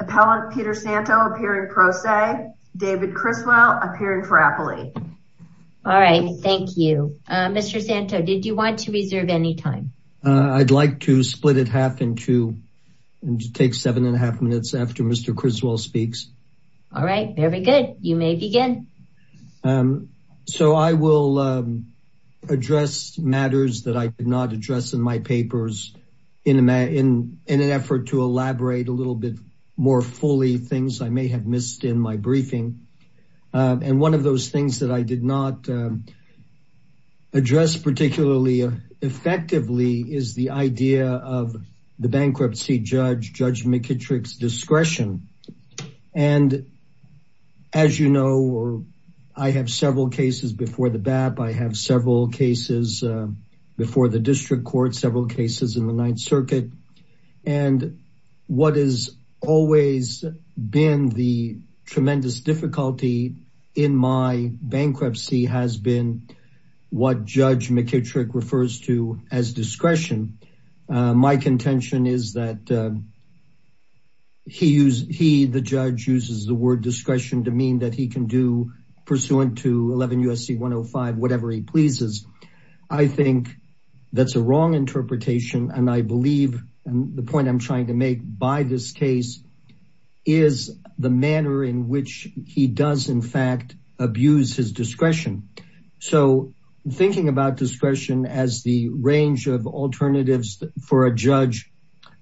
APPELLANT PETER SANTO APPEARING PRO SE, DAVID CRISWELL APPEARING FOR APPELEE. All right, thank you. Mr. Santo, did you want to reserve any time? I'd like to split it half in two and take seven and a half minutes after Mr. Criswell speaks. All right, very good. You may begin. So I will address matters that I did not address in my papers in an effort to elaborate a little bit more fully things I may have missed in my briefing. And one of those things that I did not address particularly effectively is the idea of the bankruptcy judge, Judge McKittrick's discretion. And as you know, I have several cases before the BAP. I have several cases before the district court, several cases in the Ninth Circuit. And what is always been the tremendous difficulty in my bankruptcy has been what Judge McKittrick refers to as discretion. My contention is that he, the judge, uses the word discretion to mean that he can do pursuant to 11 U.S.C. 105, whatever he pleases. I think that's a wrong interpretation. And I believe the point I'm trying to make by this case is the manner in which he does, in fact, abuse his discretion. So thinking about discretion as the range of alternatives for a judge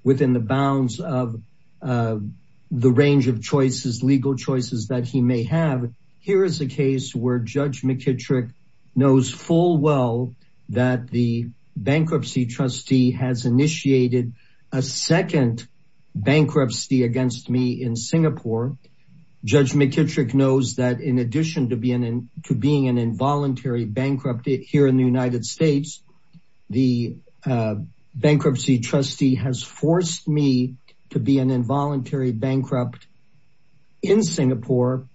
within the bounds of the range of choices, legal choices that he may have. Here is a case where Judge McKittrick knows full well that the bankruptcy trustee has initiated a second bankruptcy against me in Singapore. Judge McKittrick knows that in addition to being an involuntary bankrupt here in the United States, the bankruptcy trustee has forced me to be an involuntary bankrupt in Singapore.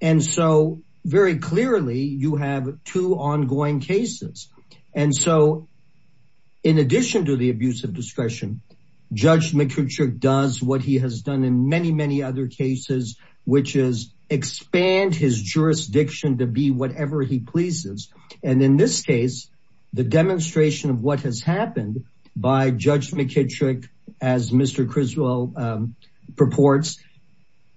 And so very clearly you have two ongoing cases. And so in addition to the abuse of discretion, Judge McKittrick does what he has done in many, many other cases, which is expand his jurisdiction to be whatever he pleases. And in this case, the demonstration of what has happened by Judge McKittrick, as Mr. Criswell purports,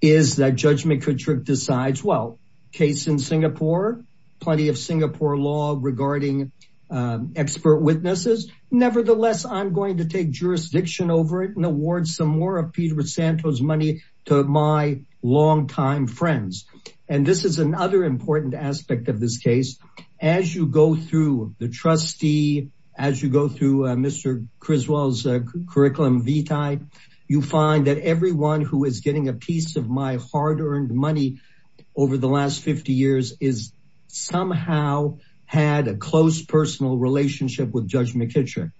is that Judge McKittrick decides, well, case in Singapore, plenty of Singapore law regarding expert witnesses. Nevertheless, I'm going to take jurisdiction over it and award some more of Peter Santos' money to my longtime friends. And this is another important aspect of this case. As you go through the trustee, as you go through Mr. Criswell's curriculum vitae, you find that everyone who is getting a piece of my hard earned money over the last 50 years is somehow had a close personal relationship with Judge McKittrick.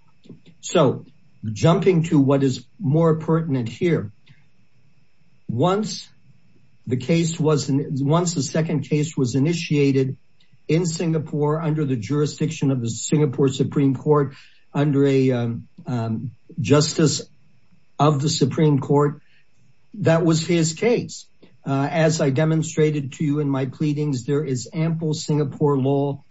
So jumping to what is more pertinent here. Once the case was, once the second case was initiated in Singapore under the jurisdiction of the Singapore Supreme Court under a justice of the Supreme Court, that was his case. As I demonstrated to you in my pleadings, there is ample Singapore law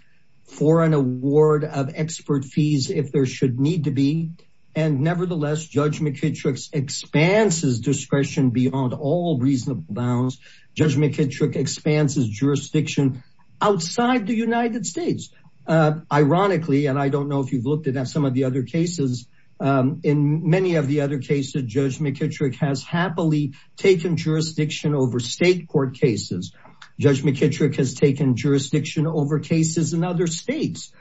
for an award of expert fees if there should need to be. And nevertheless, Judge McKittrick's expanse is discretion beyond all reasonable bounds. Judge McKittrick expands his jurisdiction outside the United States. Ironically, and I don't know if you've looked at some of the other cases, in many of the other cases, Judge McKittrick has happily taken jurisdiction over state court cases. Judge McKittrick has taken jurisdiction over cases in other states.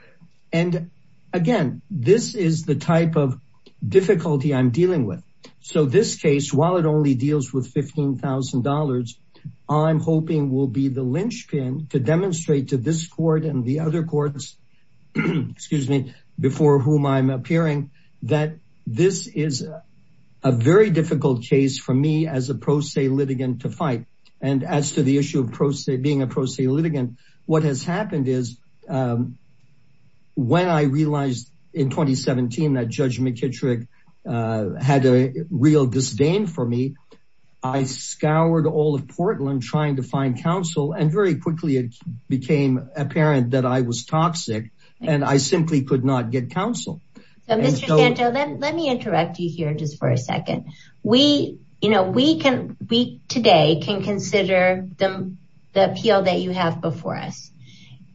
And again, this is the type of difficulty I'm dealing with. So this case, while it only deals with $15,000, I'm hoping will be the linchpin to demonstrate to this court and the other courts, excuse me, before whom I'm appearing, that this is a very difficult case for me as a pro se litigant to fight. And as to the issue of being a pro se litigant, what has happened is when I realized in 2017 that Judge McKittrick had a real disdain for me, I scoured all of Portland trying to find counsel and very quickly it became apparent that I was toxic and I simply could not get counsel. Mr. Santo, let me interrupt you here just for a second. We today can consider the appeal that you have before us.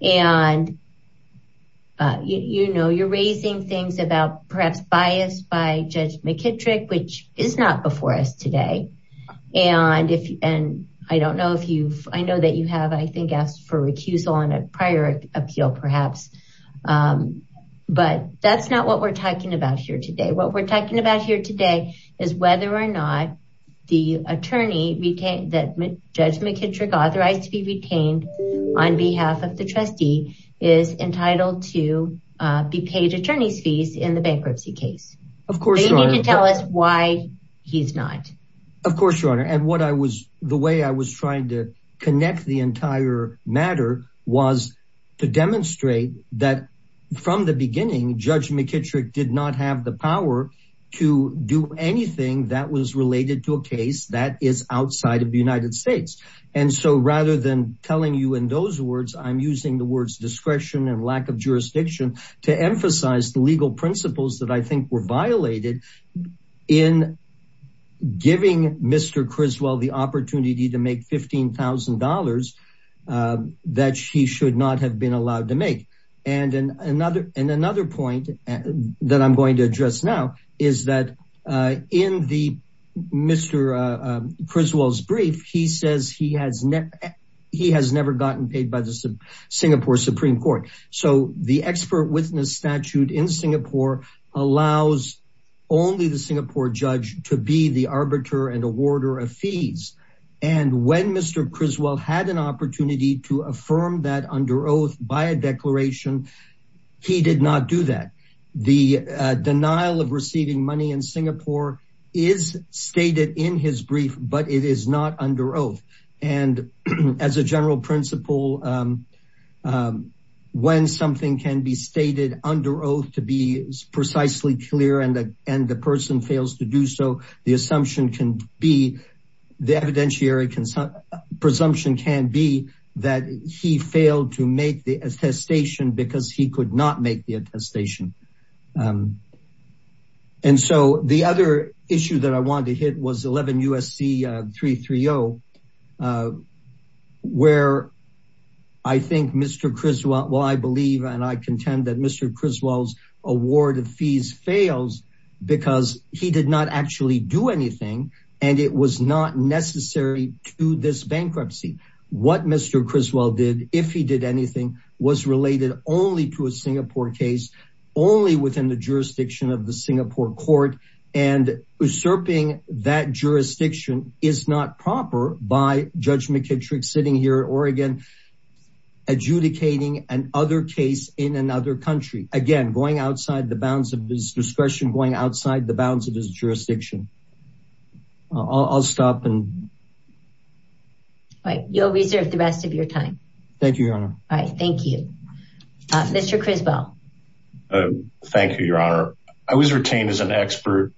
And you're raising things about perhaps bias by Judge McKittrick, which is not before us today. And I don't know if you've, I know that you have, I think asked for recusal on a prior appeal perhaps, but that's not what we're talking about here today. What we're talking about here today is whether or not the attorney that Judge McKittrick authorized to be retained on behalf of the trustee is entitled to be paid attorney's fees in the bankruptcy case. Of course, you need to tell us why he's not. Of course, Your Honor. And what I was the way I was trying to connect the entire matter was to demonstrate that from the beginning, Judge McKittrick did not have the power to do anything that was related to a case that is outside of the United States. And so rather than telling you in those words, I'm using the words discretion and lack of jurisdiction to emphasize the legal principles that I think were violated in giving Mr. Criswell the opportunity to make $15,000 that she should not have been allowed to make. And another point that I'm going to address now is that in the Mr. Criswell's brief, he says he has never gotten paid by the Singapore Supreme Court. So the expert witness statute in Singapore allows only the Singapore judge to be the arbiter and awarder of fees. And when Mr. Criswell had an opportunity to affirm that under oath by a declaration, he did not do that. The denial of receiving money in Singapore is stated in his brief, but it is not under oath. And as a general principle, when something can be stated under oath to be precisely clear and the person fails to do so, the assumption can be the evidentiary presumption can be that he failed to make the attestation because he could not make the attestation. And so the other issue that I wanted to hit was 11 USC 330, where I think Mr. Criswell, well, I believe and I contend that Mr. Criswell's award of fees fails because he did not actually do anything. And it was not necessary to this bankruptcy. What Mr. Criswell did, if he did anything, was related only to a Singapore case, only within the jurisdiction of the Singapore court. And usurping that jurisdiction is not proper by Judge McKittrick sitting here at Oregon adjudicating an other case in another country. Again, going outside the bounds of this discretion, going outside the bounds of this jurisdiction. I'll stop and. Right. You'll reserve the rest of your time. Thank you, Your Honor. All right. Thank you, Mr. Criswell. Thank you, Your Honor. I was retained as an expert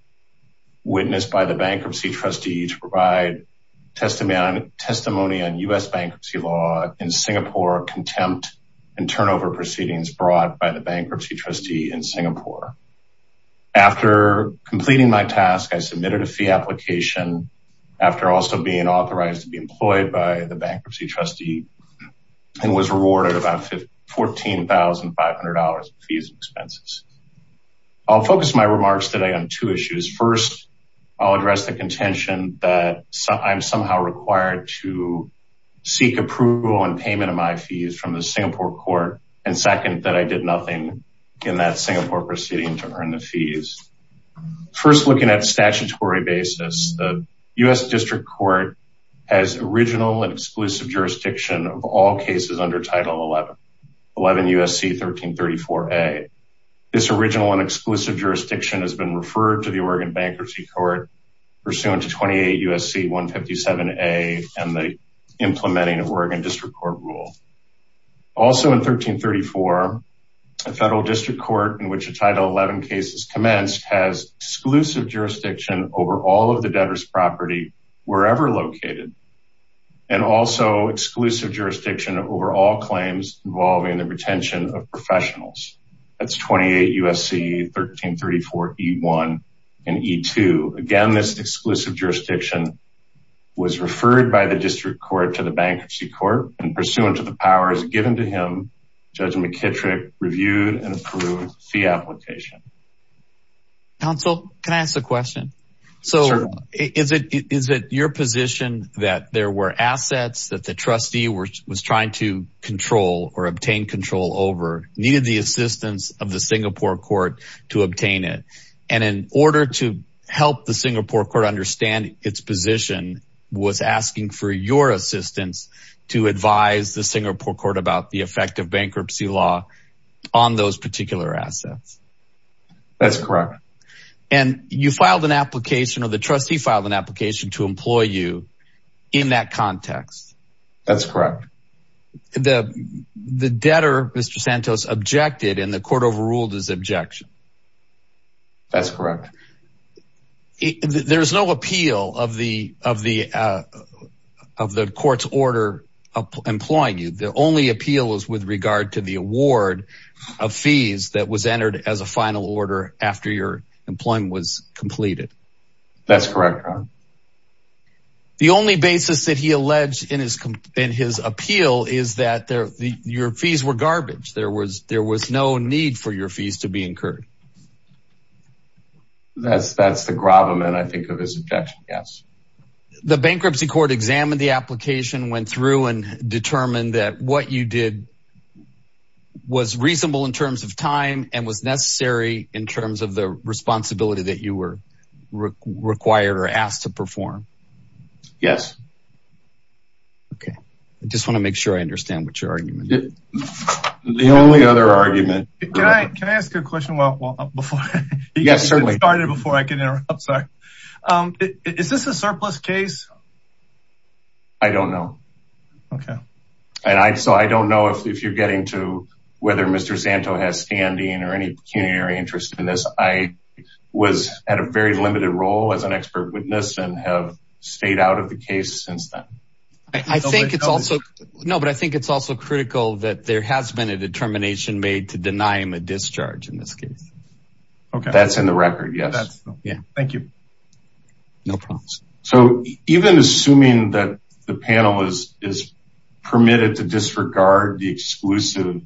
witness by the bankruptcy trustee to provide testimony on U.S. bankruptcy law in Singapore, contempt and turnover proceedings brought by the bankruptcy trustee in Singapore. After completing my task, I submitted a fee application after also being authorized to be employed by the bankruptcy trustee and was rewarded about $14,500 in fees and expenses. I'll focus my remarks today on two issues. First, I'll address the contention that I'm somehow required to seek approval and payment of my fees from the Singapore court. And second, that I did nothing in that Singapore proceeding to earn the fees. First, looking at statutory basis, the U.S. District Court has original and exclusive jurisdiction of all cases under Title 11, 11 U.S.C. 1334A. This original and exclusive jurisdiction has been referred to the Oregon Bankruptcy Court pursuant to 28 U.S.C. 157A and the implementing of Oregon District Court rule. Also in 1334, a federal district court in which a Title 11 case is commenced has exclusive jurisdiction over all of the debtor's property wherever located and also exclusive jurisdiction over all claims involving the retention of professionals. That's 28 U.S.C. 1334E1 and E2. Again, this exclusive jurisdiction was referred by the District Court to the Bankruptcy Court and pursuant to the powers given to him, Judge McKittrick reviewed and approved fee application. Counsel, can I ask a question? So is it your position that there were assets that the trustee was trying to control or obtain control over, needed the assistance of the Singapore court to obtain it? And in order to help the Singapore court understand its position, was asking for your assistance to advise the Singapore court about the effect of bankruptcy law on those particular assets? That's correct. And you filed an application or the trustee filed an application to employ you in that context? That's correct. The debtor, Mr. Santos, objected and the court overruled his objection. That's correct. There is no appeal of the court's order employing you. The only appeal is with regard to the award of fees that was entered as a final order after your employment was completed. That's correct. The only basis that he alleged in his appeal is that your fees were garbage. There was no need for your fees to be incurred. That's the gravamen, I think, of his objection. Yes. The bankruptcy court examined the application, went through and determined that what you did was reasonable in terms of time and was necessary in terms of the responsibility that you were required or asked to perform. Yes. Okay. I just want to make sure I understand what your argument is. The only other argument. Can I ask a question before? Yes, certainly. Is this a surplus case? I don't know. Okay. I don't know if you're getting to whether Mr. Santos has standing or any pecuniary interest in this. I was at a very limited role as an expert witness and have stayed out of the case since then. I think it's also critical that there has been a determination made to deny him a discharge in this case. That's in the record. Yes. Thank you. So even assuming that the panel is permitted to disregard the exclusive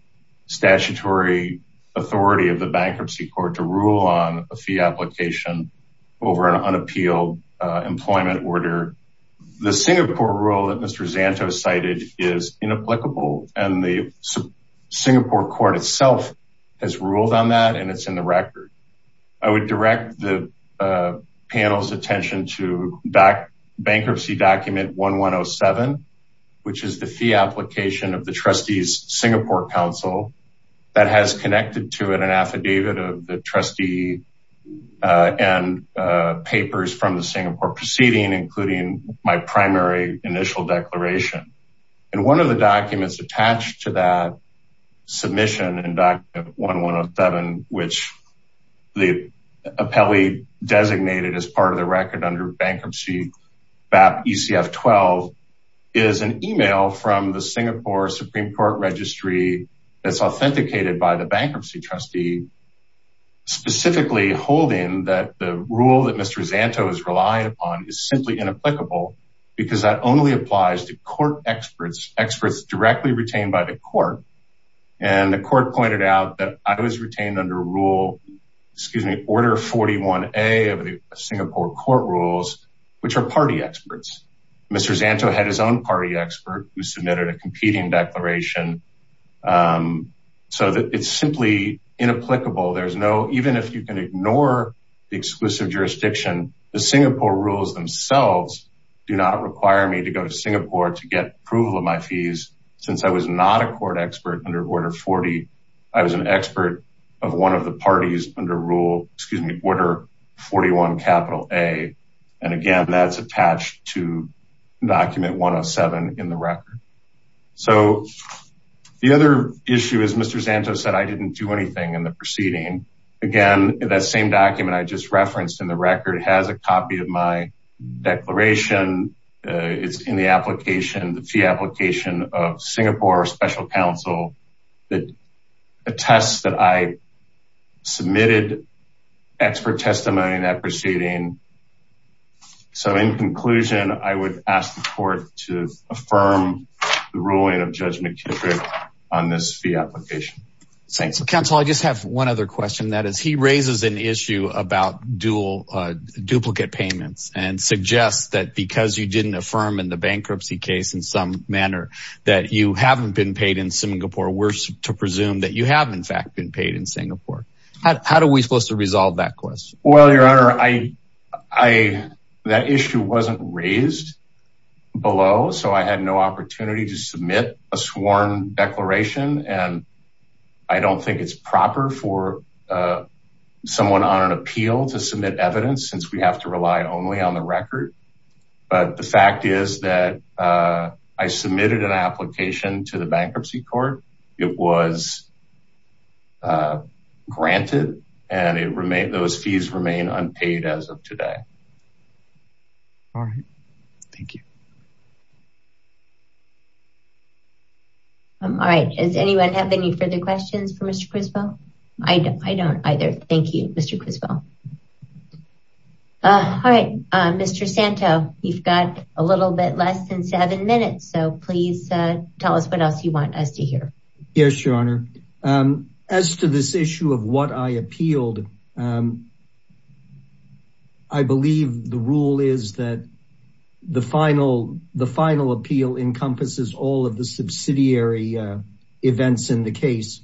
statutory authority of the bankruptcy court to rule on a fee application over an unappealed employment order. The Singapore rule that Mr. Santos cited is inapplicable and the Singapore court itself has ruled on that and it's in the record. I would direct the panel's attention to bankruptcy document 1107, which is the fee application of the trustees Singapore council that has connected to it an affidavit of the trustee and papers from the Singapore proceeding, including my primary initial declaration. And one of the documents attached to that submission and document 1107, which the appellee designated as part of the record under bankruptcy BAP ECF 12 is an email from the Singapore Supreme Court registry. That's authenticated by the bankruptcy trustee, specifically holding that the rule that Mr. Santos relied upon is simply inapplicable because that only applies to court experts, experts directly retained by the court. And the court pointed out that I was retained under rule, excuse me, order 41A of the Singapore court rules, which are party experts. Mr. Santos had his own party expert who submitted a competing declaration so that it's simply inapplicable. There's no, even if you can ignore the exclusive jurisdiction, the Singapore rules themselves do not require me to go to Singapore to get approval of my fees. Since I was not a court expert under order 40, I was an expert of one of the parties under rule, excuse me, order 41A. And again, that's attached to document 107 in the record. So the other issue is Mr. Santos said, I didn't do anything in the proceeding. Again, that same document I just referenced in the record has a copy of my declaration. It's in the application, the fee application of Singapore special counsel that attests that I submitted expert testimony in that proceeding. So in conclusion, I would ask the court to affirm the ruling of judge McKittrick on this fee application. Thanks counsel. I just have one other question. That is he raises an issue about dual duplicate payments and suggests that because you didn't affirm in the bankruptcy case in some manner that you haven't been paid in Singapore. We're to presume that you have in fact been paid in Singapore. How do we supposed to resolve that question? Well, your honor, I, I, that issue wasn't raised below. So I had no opportunity to submit a sworn declaration. And I don't think it's proper for someone on an appeal to submit evidence since we have to rely only on the record. But the fact is that I submitted an application to the bankruptcy court. It was granted and it remained, those fees remain unpaid as of today. All right. Thank you. All right. Does anyone have any further questions for Mr. Crispo? I don't either. Thank you, Mr. Crispo. All right. Mr. Santo, you've got a little bit less than seven minutes. So please tell us what else you want us to hear. Yes, your honor. As to this issue of what I appealed, I believe the rule is that the final, the final appeal encompasses all of the subsidiary events in the case.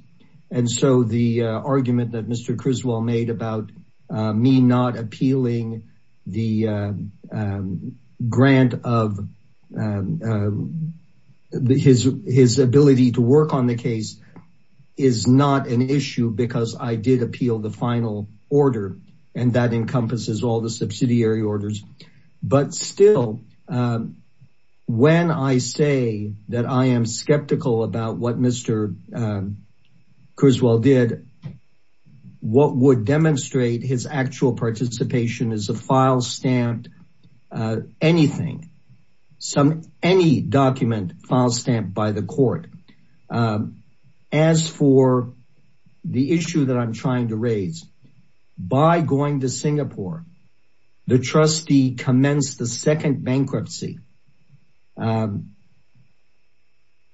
And so the argument that Mr. Crispo made about me not appealing the grant of his, his ability to work on the case is not an issue because I did appeal the final order. And that encompasses all the subsidiary orders. But still, when I say that I am skeptical about what Mr. Crispo did, what would demonstrate his actual participation is a file stamped anything, some, any document file stamped by the court. As for the issue that I'm trying to raise, by going to Singapore, the trustee commenced the second bankruptcy.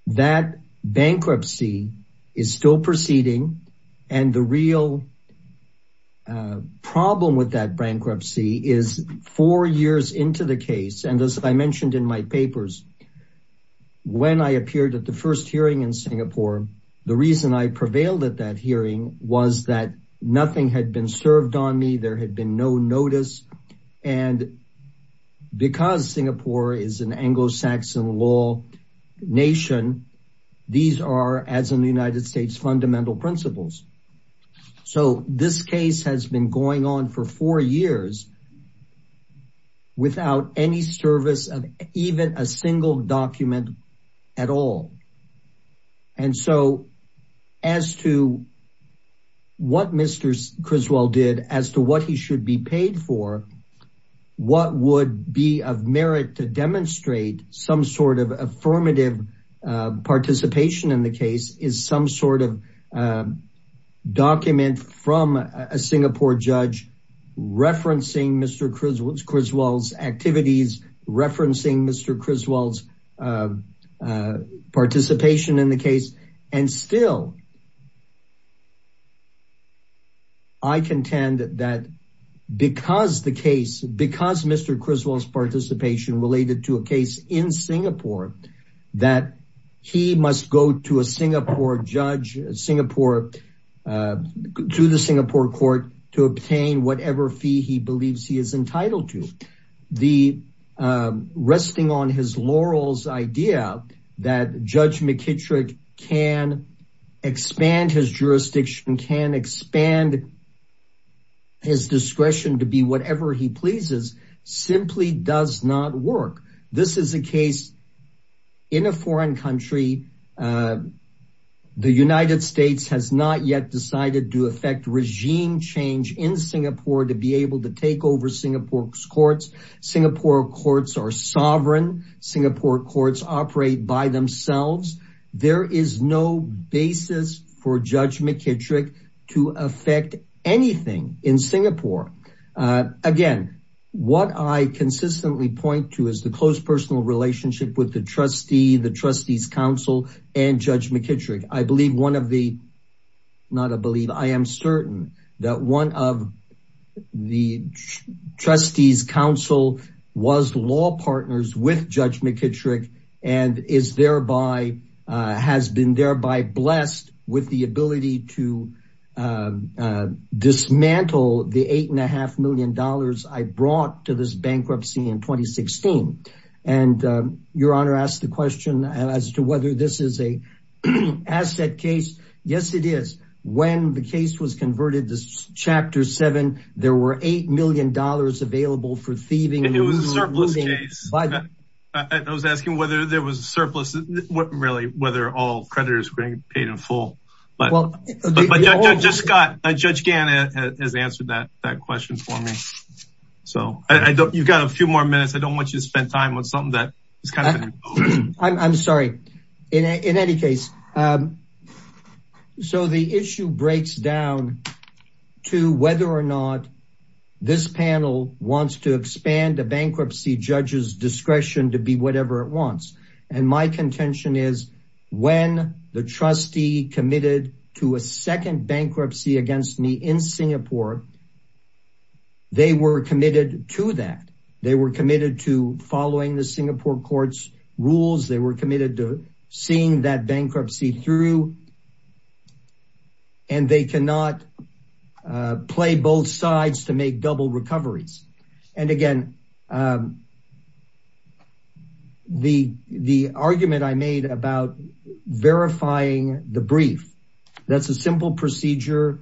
That bankruptcy is still proceeding. And the real problem with that bankruptcy is four years into the case. And as I mentioned in my papers, when I appeared at the first hearing in Singapore, the reason I prevailed at that hearing was that nothing had been served on me. There had been no notice. And because Singapore is an Anglo-Saxon law nation, these are, as in the United States, fundamental principles. So this case has been going on for four years without any service of even a single document at all. And so as to what Mr. Criswell did, as to what he should be paid for, what would be of merit to demonstrate some sort of affirmative participation in the case is some sort of document from a Singapore judge referencing Mr. Criswell's activities, referencing Mr. Criswell's participation in the case. And still, I contend that because the case, because Mr. Criswell's participation related to a case in Singapore, that he must go to a Singapore judge, Singapore, to the Singapore court to obtain whatever fee he believes he is entitled to. The resting on his laurels idea that Judge McKittrick can expand his jurisdiction, can expand his discretion to be whatever he pleases, simply does not work. This is a case in a foreign country. The United States has not yet decided to affect regime change in Singapore to be able to take over Singapore's courts. Singapore courts are sovereign. Singapore courts operate by themselves. There is no basis for Judge McKittrick to affect anything in Singapore. Again, what I consistently point to is the close personal relationship with the trustee, the trustees council and Judge McKittrick. I believe one of the, not a believe, I am certain that one of the trustees council was law partners with Judge McKittrick and is thereby, has been thereby blessed with the ability to dismantle the $8.5 million I brought to this bankruptcy in 2016. And your honor asked the question as to whether this is a asset case. Yes, it is. When the case was converted to chapter seven, there were $8 million available for thieving. It was a surplus case. I was asking whether there was a surplus, really, whether all creditors were paid in full. But Judge Gannon has answered that question for me. So I don't, you've got a few more minutes. I don't want you to spend time on something that is kind of. I'm sorry. In any case, so the issue breaks down to whether or not this panel wants to expand a bankruptcy judge's discretion to be whatever it wants. And my contention is when the trustee committed to a second bankruptcy against me in Singapore, they were committed to that. They were committed to following the Singapore court's rules. They were committed to seeing that bankruptcy through. And they cannot play both sides to make double recoveries. And again, the argument I made about verifying the brief, that's a simple procedure.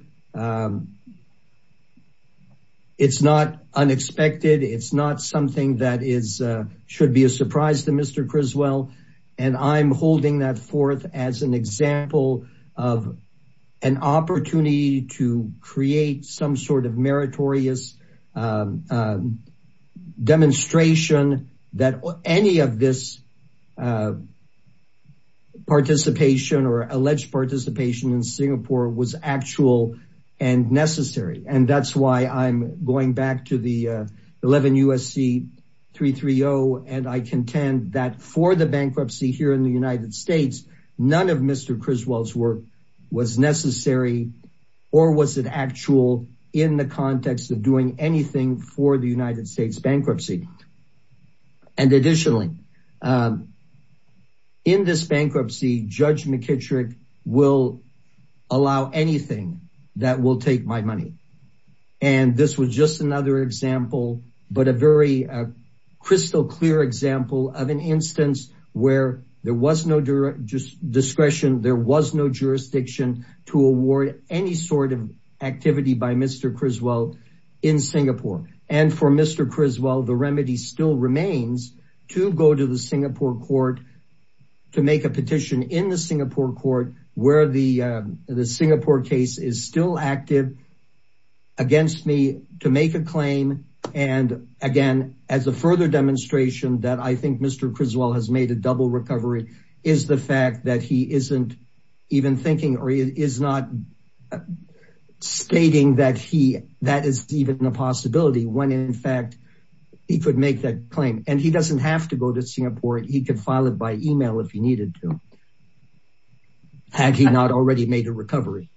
It's not unexpected. It's not something that should be a surprise to Mr. Criswell. And I'm holding that forth as an example of an opportunity to create some sort of meritorious demonstration that any of this participation or alleged participation in Singapore was actual and necessary. And that's why I'm going back to the 11 USC 3 3 0. And I contend that for the bankruptcy here in the United States, none of Mr. Criswell's work was necessary or was it actual in the context of doing anything for the United States bankruptcy. And additionally, in this bankruptcy, Judge McKittrick will allow anything that will take my money. And this was just another example, but a very crystal clear example of an instance where there was no just discretion. There was no jurisdiction to award any sort of activity by Mr. Criswell in Singapore. And for Mr. Criswell, the remedy still remains to go to the Singapore court to make a petition in the Singapore court where the Singapore case is still active against me to make a claim. And again, as a further demonstration that I think Mr. Criswell has made a double recovery is the fact that he isn't even thinking or is not stating that he that is even a possibility when in fact, he could make that claim and he doesn't have to go to Singapore. He can file it by email if he needed to. Had he not already made a recovery.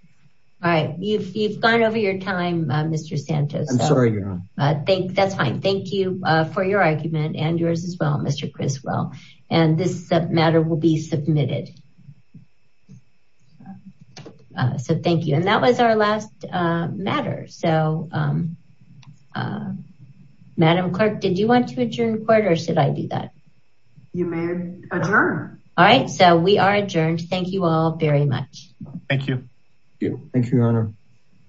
All right. You've gone over your time, Mr. Santos. I'm sorry. I think that's fine. Thank you for your argument and yours as well, Mr. Criswell. And this matter will be submitted. So thank you. And that was our last matter. So, Madam Clerk, did you want to adjourn court or should I do that? You may adjourn. All right. So we are adjourned. Thank you all very much. Thank you. Thank you, Your Honor.